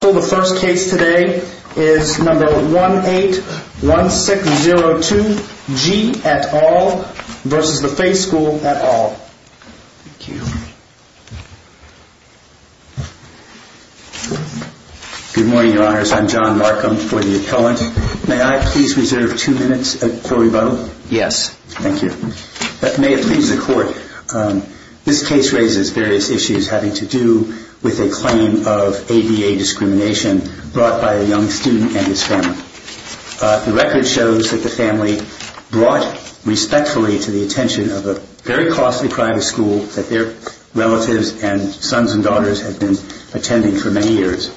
The first case today is No. 181602, G. et al. v. The Fay School et al. Thank you. Good morning, Your Honors. I'm John Markham for the appellant. May I please reserve two minutes of court rebuttal? Yes. Thank you. May it please the Court. This case raises various issues having to do with a claim of ABA discrimination brought by a young student and his family. The record shows that the family brought respectfully to the attention of a very costly private school that their relatives and sons and daughters had been attending for many years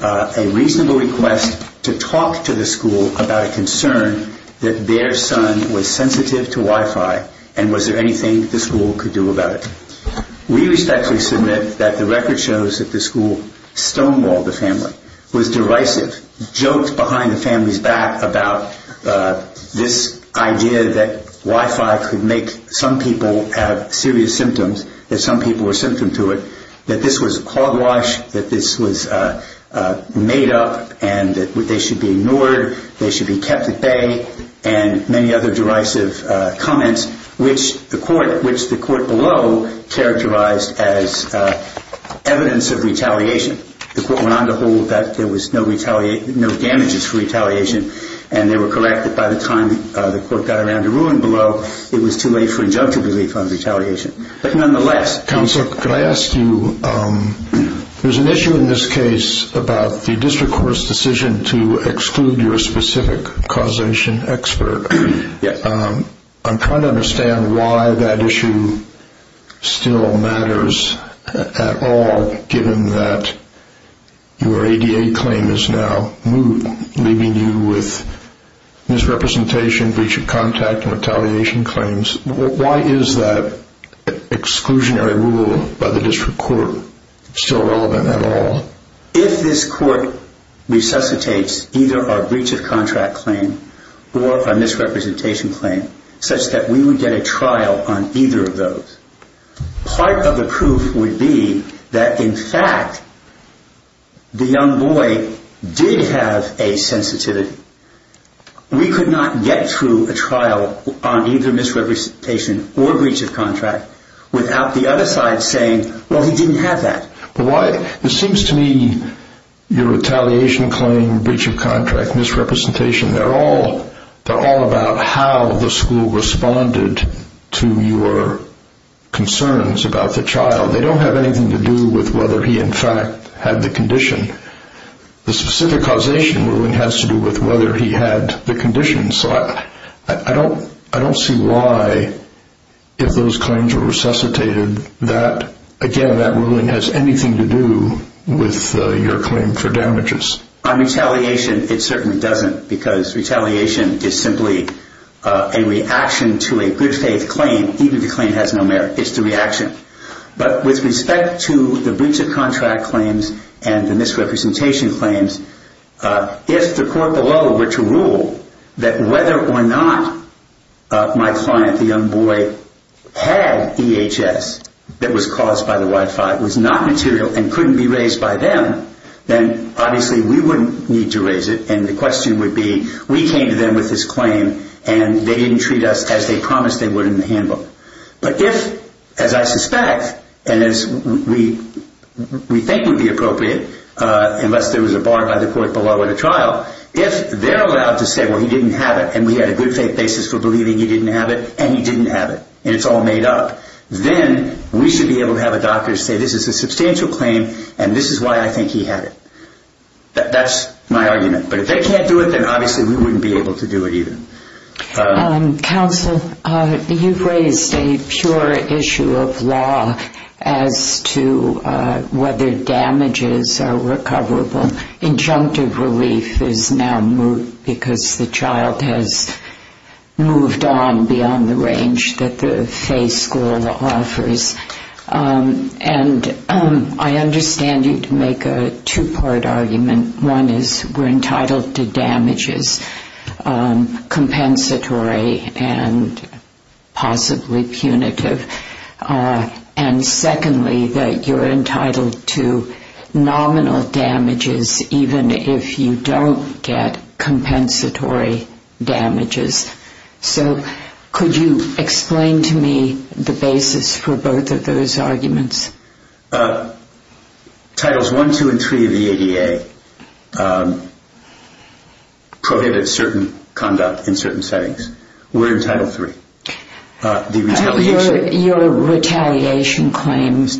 a reasonable request to talk to the school about a concern that their son was sensitive to Wi-Fi and was there anything the school could do about it. We respectfully submit that the record shows that the school stonewalled the family, was derisive, joked behind the family's back about this idea that Wi-Fi could make some people have serious symptoms, that some people were a symptom to it, that this was a clog wash, that this was made up, and that they should be ignored, they should be kept at bay, and many other derisive comments, which the court below characterized as evidence of retaliation. The court went on to hold that there was no damages for retaliation, and they were correct that by the time the court got around to ruling below, it was too late for injunctive relief on retaliation. Counsel, could I ask you, there's an issue in this case about the district court's decision to exclude your specific causation expert. I'm trying to understand why that issue still matters at all, given that your ADA claim is now moot, leaving you with misrepresentation, breach of contact, and retaliation claims. Why is that exclusionary rule by the district court still relevant at all? If this court resuscitates either a breach of contract claim or a misrepresentation claim, such that we would get a trial on either of those, part of the proof would be that, in fact, the young boy did have a sensitivity. We could not get through a trial on either misrepresentation or breach of contract without the other side saying, well, he didn't have that. It seems to me your retaliation claim, breach of contract, misrepresentation, they're all about how the school responded to your concerns about the child. They don't have anything to do with whether he, in fact, had the condition. The specific causation ruling has to do with whether he had the condition. I don't see why, if those claims were resuscitated, that ruling has anything to do with your claim for damages. On retaliation, it certainly doesn't, because retaliation is simply a reaction to a good faith claim, even if the claim has no merit. It's the reaction. With respect to the breach of contract claims and the misrepresentation claims, if the court below were to rule that whether or not my client, the young boy, had EHS that was caused by the Y-5, was not material and couldn't be raised by them, then obviously we wouldn't need to raise it. The question would be, we came to them with this claim and they didn't treat us as they promised they would in the handbook. But if, as I suspect, and as we think would be appropriate, unless there was a bar by the court below at a trial, if they're allowed to say, well, he didn't have it and we had a good faith basis for believing he didn't have it, and he didn't have it, and it's all made up, then we should be able to have a doctor say, this is a substantial claim and this is why I think he had it. That's my argument. But if they can't do it, then obviously we wouldn't be able to do it either. Counsel, you've raised a pure issue of law as to whether damages are recoverable. Injunctive relief is now moot because the child has moved on beyond the range that the Fay School offers. And I understand you make a two-part argument. One is we're entitled to damages, compensatory and possibly punitive. And secondly, that you're entitled to nominal damages even if you don't get compensatory damages. So could you explain to me the basis for both of those arguments? Titles 1, 2, and 3 of the ADA prohibited certain conduct in certain settings. We're in Title 3. Your retaliation claim is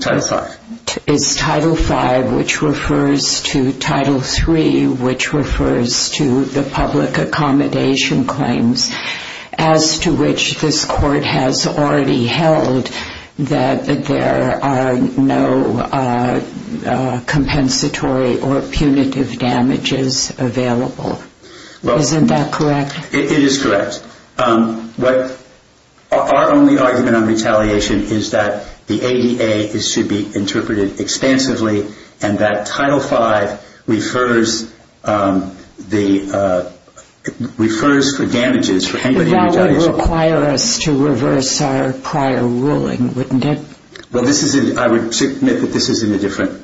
Title 5, which refers to Title 3, which refers to the public accommodation claims, as to which this Court has already held that there are no compensatory or punitive damages available. Isn't that correct? It is correct. Our only argument on retaliation is that the ADA should be interpreted expansively and that Title 5 refers for damages for anybody who retaliates. But that would require us to reverse our prior ruling, wouldn't it? Well, I would submit that this is in a different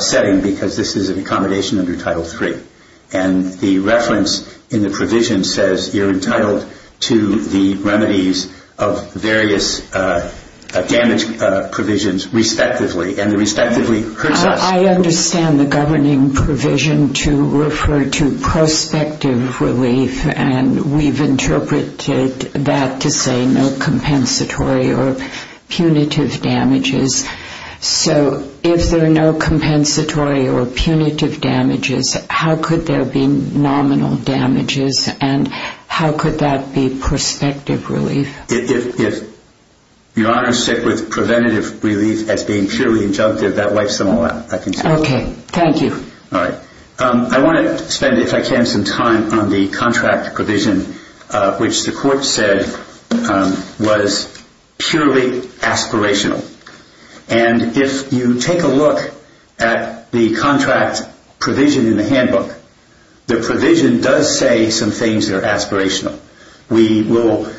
setting because this is an accommodation under Title 3. And the reference in the provision says you're entitled to the remedies of various damage provisions respectively. I understand the governing provision to refer to prospective relief, and we've interpreted that to say no compensatory or punitive damages. So if there are no compensatory or punitive damages, how could there be nominal damages and how could that be prospective relief? If Your Honor is sick with preventative relief as being purely injunctive, that wipes them all out. Okay. Thank you. All right. I want to spend, if I can, some time on the contract provision, which the Court said was purely aspirational. And if you take a look at the contract provision in the handbook, the provision does say some things that are aspirational. We will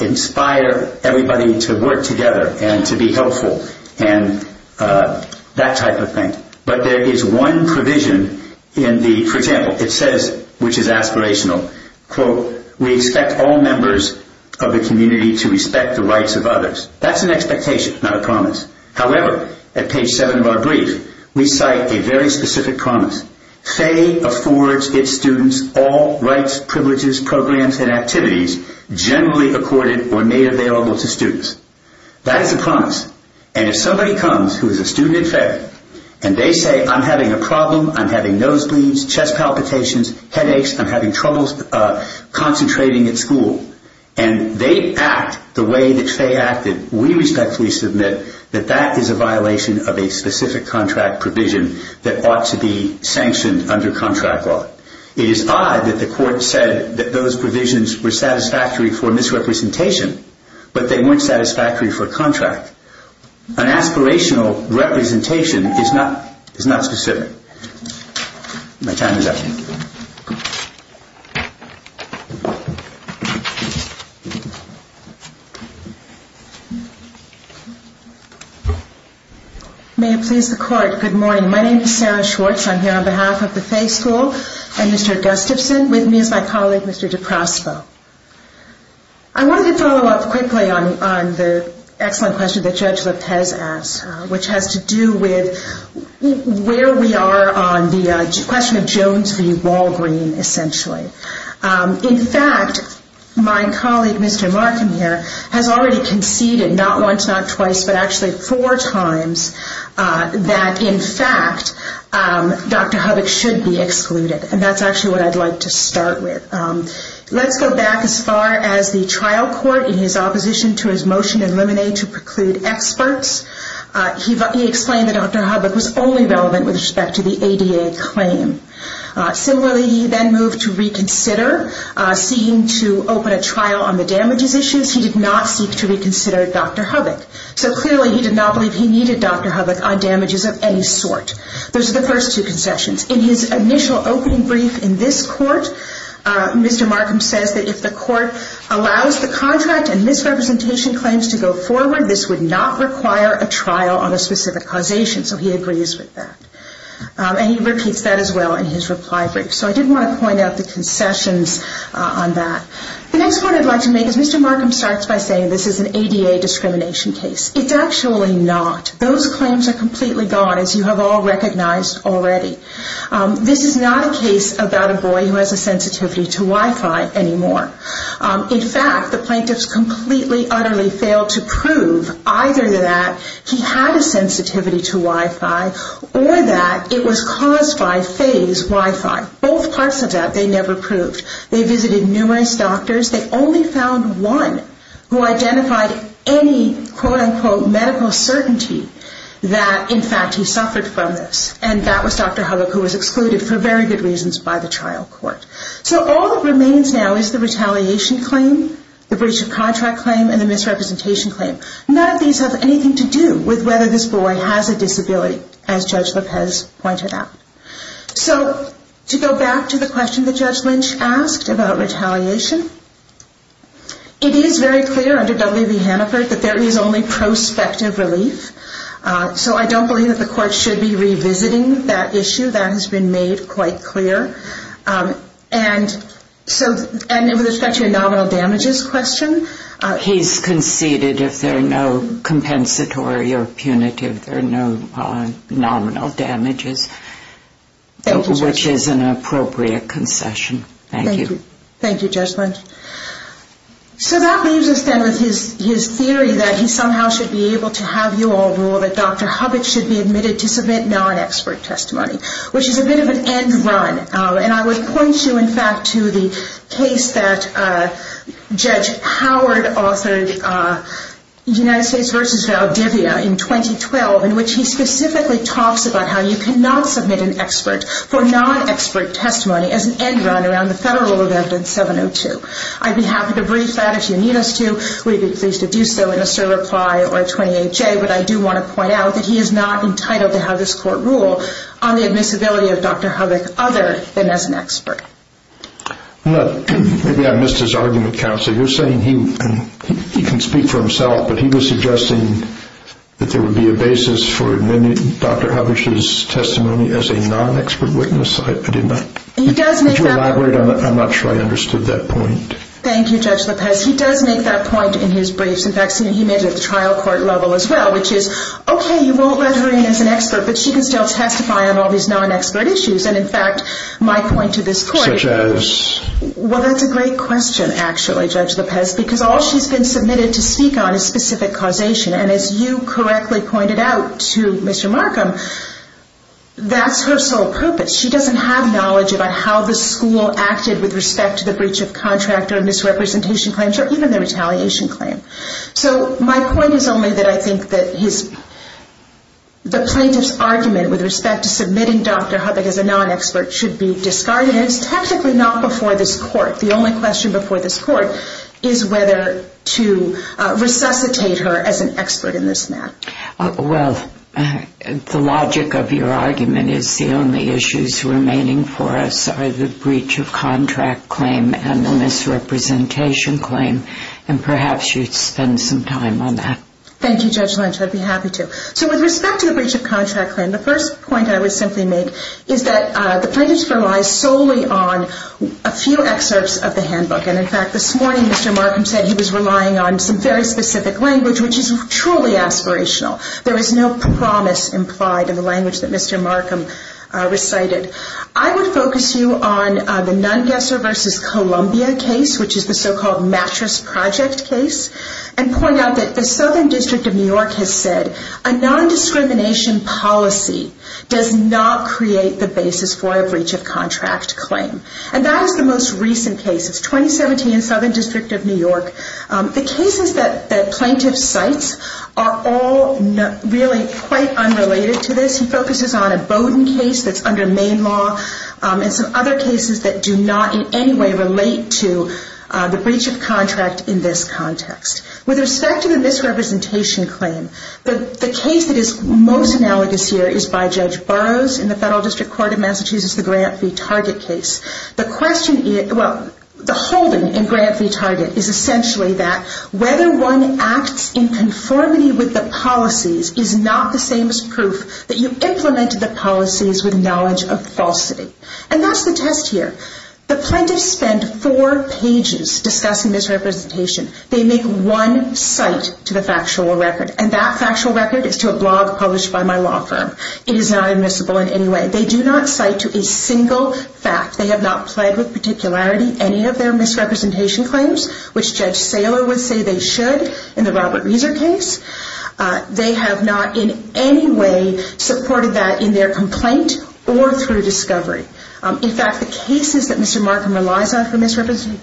inspire everybody to work together and to be helpful and that type of thing. But there is one provision in the, for example, it says, which is aspirational, quote, we expect all members of the community to respect the rights of others. That's an expectation, not a promise. However, at page 7 of our brief, we cite a very specific promise. FAE affords its students all rights, privileges, programs, and activities generally accorded or made available to students. That is a promise. And if somebody comes who is a student at FAE and they say, I'm having a problem, I'm having nosebleeds, chest palpitations, headaches, I'm having trouble concentrating at school, and they act the way that FAE acted, we respectfully submit that that is a violation of a specific contract provision that ought to be sanctioned under contract law. It is odd that the Court said that those provisions were satisfactory for misrepresentation, but they weren't satisfactory for contract. An aspirational representation is not specific. My time is up. May it please the Court. Good morning. My name is Sarah Schwartz. I'm here on behalf of the FAE School and Mr. Gustafson. With me is my colleague, Mr. DeProspo. I wanted to follow up quickly on the excellent question that Judge Lopez asked, which has to do with where we are on the question of Jones v. Walgreen, essentially. In fact, my colleague, Mr. Markham, here, has already conceded not once, not twice, but actually four times, that, in fact, Dr. Hubbock should be excluded, and that's actually what I'd like to start with. Let's go back as far as the trial court in his opposition to his motion to eliminate or preclude experts. He explained that Dr. Hubbock was only relevant with respect to the ADA claim. Similarly, he then moved to reconsider, seeking to open a trial on the damages issues. He did not seek to reconsider Dr. Hubbock. So clearly, he did not believe he needed Dr. Hubbock on damages of any sort. Those are the first two concessions. In his initial opening brief in this court, Mr. Markham says that if the court allows the contract and misrepresentation claims to go forward, this would not require a trial on a specific causation. So he agrees with that. And he repeats that as well in his reply brief. So I did want to point out the concessions on that. The next point I'd like to make is Mr. Markham starts by saying this is an ADA discrimination case. It's actually not. Those claims are completely gone, as you have all recognized already. This is not a case about a boy who has a sensitivity to Wi-Fi anymore. In fact, the plaintiffs completely, utterly failed to prove either that he had a sensitivity to Wi-Fi or that it was caused by phased Wi-Fi. Both parts of that they never proved. They visited numerous doctors. They only found one who identified any, quote-unquote, medical certainty that, in fact, he suffered from this. And that was Dr. Huggock, who was excluded for very good reasons by the trial court. So all that remains now is the retaliation claim, the breach of contract claim, and the misrepresentation claim. None of these have anything to do with whether this boy has a disability, as Judge Lopez pointed out. So to go back to the question that Judge Lynch asked about retaliation, it is very clear under W. E. Hannaford that there is only prospective relief. So I don't believe that the court should be revisiting that issue. That has been made quite clear. And with respect to a nominal damages question, he's conceded if there are no compensatory or punitive, there are no nominal damages, which is an appropriate concession. Thank you. Thank you, Judge Lynch. So that leaves us then with his theory that he somehow should be able to have you all rule that Dr. Huggock should be admitted to submit non-expert testimony, which is a bit of an end run. And I would point you, in fact, to the case that Judge Howard authored, United States v. Valdivia, in 2012, in which he specifically talks about how you cannot submit an expert for non-expert testimony as an end run around the federal event in 702. I'd be happy to brief that if you need us to. We'd be pleased to do so in a cert reply or a 28-J. But I do want to point out that he is not entitled to have this court rule on the admissibility of Dr. Huggock other than as an expert. Maybe I missed his argument, Counsel. You're saying he can speak for himself, but he was suggesting that there would be a basis for Dr. Huggock's testimony as a non-expert witness. Did you elaborate on that? I'm not sure I understood that point. Thank you, Judge Lopez. He does make that point in his briefs. In fact, he made it at the trial court level as well, which is, okay, you won't let her in as an expert, but she can still testify on all these non-expert issues. And in fact, my point to this court is... Such as? Well, that's a great question, actually, Judge Lopez, because all she's been submitted to speak on is specific causation. And as you correctly pointed out to Mr. Markham, that's her sole purpose. She doesn't have knowledge about how the school acted with respect to the breach of contract or misrepresentation claims or even the retaliation claim. So my point is only that I think that the plaintiff's argument with respect to submitting Dr. Huggock as a non-expert should be discarded, and it's technically not before this court. The only question before this court is whether to resuscitate her as an expert in this matter. Well, the logic of your argument is the only issues remaining for us are the breach of contract claim and the misrepresentation claim, and perhaps you'd spend some time on that. Thank you, Judge Lynch. I'd be happy to. So with respect to the breach of contract claim, the first point I would simply make is that the plaintiff relies solely on a few excerpts of the handbook. And in fact, this morning Mr. Markham said he was relying on some very specific language, which is truly aspirational. There is no promise implied in the language that Mr. Markham recited. I would focus you on the Nungesser v. Columbia case, which is the so-called mattress project case, and point out that the Southern District of New York has said a non-discrimination policy does not create the basis for a breach of contract claim. And that is the most recent case. It's 2017, Southern District of New York. The cases that the plaintiff cites are all really quite unrelated to this. He focuses on a Bowdoin case that's under Maine law and some other cases that do not in any way relate to the breach of contract in this context. With respect to the misrepresentation claim, the case that is most analogous here is by Judge Burroughs in the Federal District Court of Massachusetts, the Grant v. Target case. The question is, well, the holding in Grant v. Target is essentially that whether one acts in conformity with the policies is not the same as proof that you implemented the policies with knowledge of falsity. And that's the test here. The plaintiffs spend four pages discussing misrepresentation. They make one cite to the factual record, and that factual record is to a blog published by my law firm. It is not admissible in any way. They do not cite to a single fact. They have not played with particularity any of their misrepresentation claims, which Judge Saylor would say they should in the Robert Rieser case. They have not in any way supported that in their complaint or through discovery. In fact, the cases that Mr. Markham relies on for misrepresentation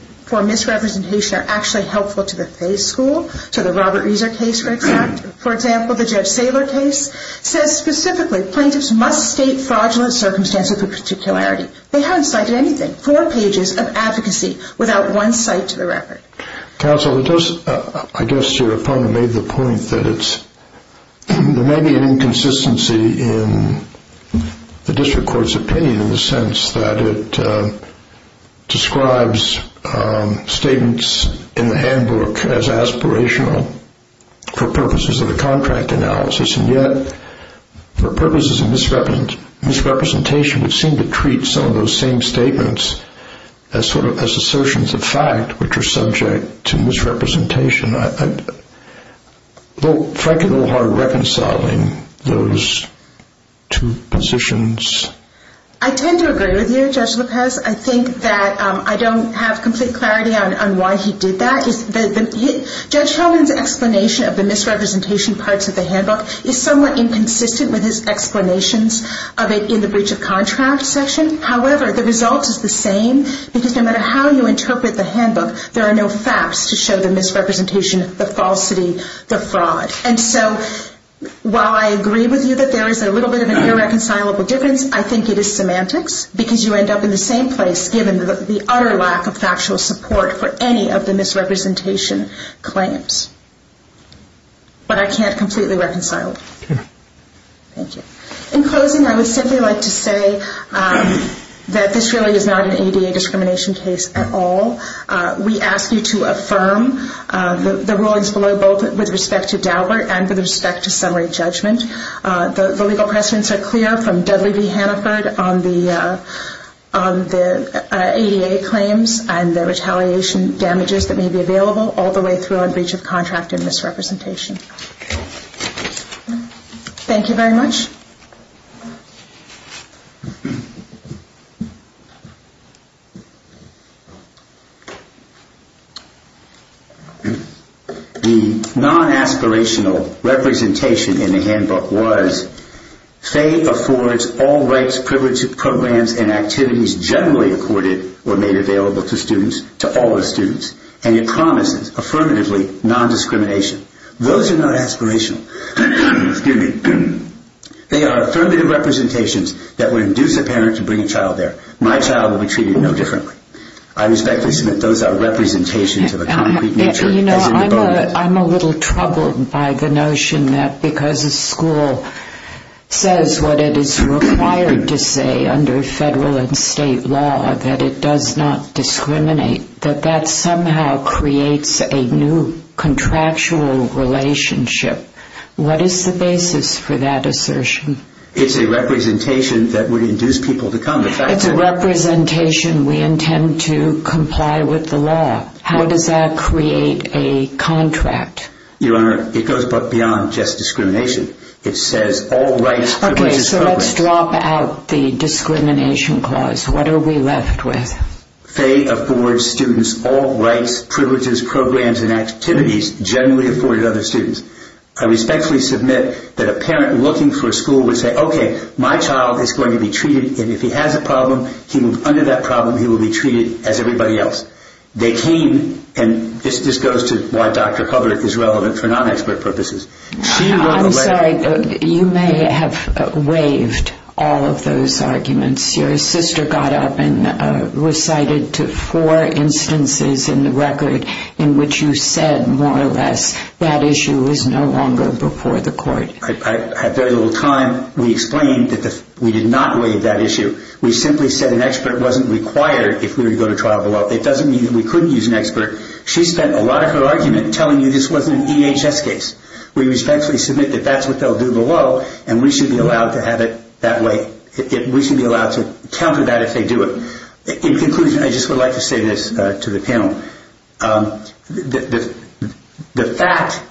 are actually helpful to the Fay School, to the Robert Rieser case, for example. The Judge Saylor case says specifically plaintiffs must state fraudulent circumstances for particularity. They haven't cited anything, four pages of advocacy without one cite to the record. Counsel, I guess your opponent made the point that there may be an inconsistency in the district court's opinion in the sense that it describes statements in the handbook as aspirational for purposes of the contract analysis, and yet for purposes of misrepresentation, it seemed to treat some of those same statements as assertions of fact, which are subject to misrepresentation. Try to go hard reconciling those two positions. I tend to agree with you, Judge Lopez. I think that I don't have complete clarity on why he did that. Judge Hellman's explanation of the misrepresentation parts of the handbook is somewhat inconsistent with his explanations of it in the breach of contract section. However, the result is the same because no matter how you interpret the handbook, there are no facts to show the misrepresentation, the falsity, the fraud. And so while I agree with you that there is a little bit of an irreconcilable difference, I think it is semantics because you end up in the same place given the utter lack of factual support for any of the misrepresentation claims. But I can't completely reconcile it. Thank you. In closing, I would simply like to say that this really is not an ADA discrimination case at all. We ask you to affirm the rulings below both with respect to Daubert and with respect to summary judgment. The legal precedents are clear from Dudley v. Hannaford on the ADA claims and the retaliation damages that may be available all the way through on breach of contract and misrepresentation. Thank you very much. The non-aspirational representation in the handbook was FAE affords all rights, privileges, programs, and activities generally accorded or made available to students, to all of the students. And it promises, affirmatively, non-discrimination. Those are not aspirational. They are affirmative representations that would induce a parent to bring a child there. My child will be treated no differently. I respectfully submit those are representations of a concrete nature. You know, I'm a little troubled by the notion that because a school says what it is required to say under federal and state law that it does not discriminate, that that somehow creates a new contractual relationship. What is the basis for that assertion? It's a representation that would induce people to come. It's a representation we intend to comply with the law. How does that create a contract? Your Honor, it goes beyond just discrimination. It says all rights, privileges, programs. Okay, so let's drop out the discrimination clause. What are we left with? FAE affords students all rights, privileges, programs, and activities generally afforded to other students. I respectfully submit that a parent looking for a school would say, Okay, my child is going to be treated, and if he has a problem, under that problem he will be treated as everybody else. They came, and this goes to why Dr. Hoverick is relevant for non-expert purposes. I'm sorry, you may have waived all of those arguments. Your sister got up and recited to four instances in the record in which you said more or less that issue is no longer before the court. At very little time we explained that we did not waive that issue. We simply said an expert wasn't required if we were to go to trial below. It doesn't mean that we couldn't use an expert. She spent a lot of her argument telling you this wasn't an EHS case. We respectfully submit that that's what they'll do below, and we should be allowed to have it that way. We should be allowed to counter that if they do it. In conclusion, I just would like to say this to the panel. The fact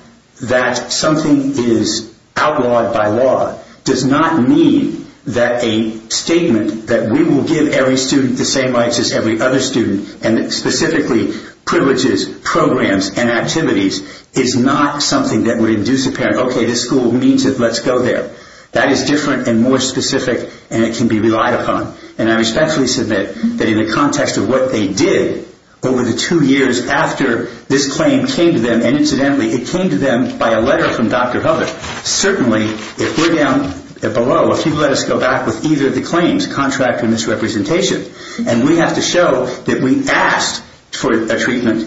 that something is outlawed by law does not mean that a statement that we will give every student the same rights as every other student, and specifically privileges, programs, and activities, is not something that would induce a parent, okay, this school means it, let's go there. That is different and more specific, and it can be relied upon. And I respectfully submit that in the context of what they did over the two years after this claim came to them, and incidentally it came to them by a letter from Dr. Hubbard, certainly if we're down below, if you let us go back with either of the claims, contract or misrepresentation, and we have to show that we asked for a treatment,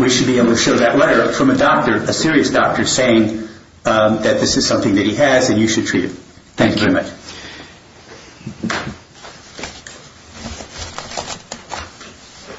we should be able to show that letter from a doctor, a serious doctor, saying that this is something that he has and you should treat him. Thank you very much.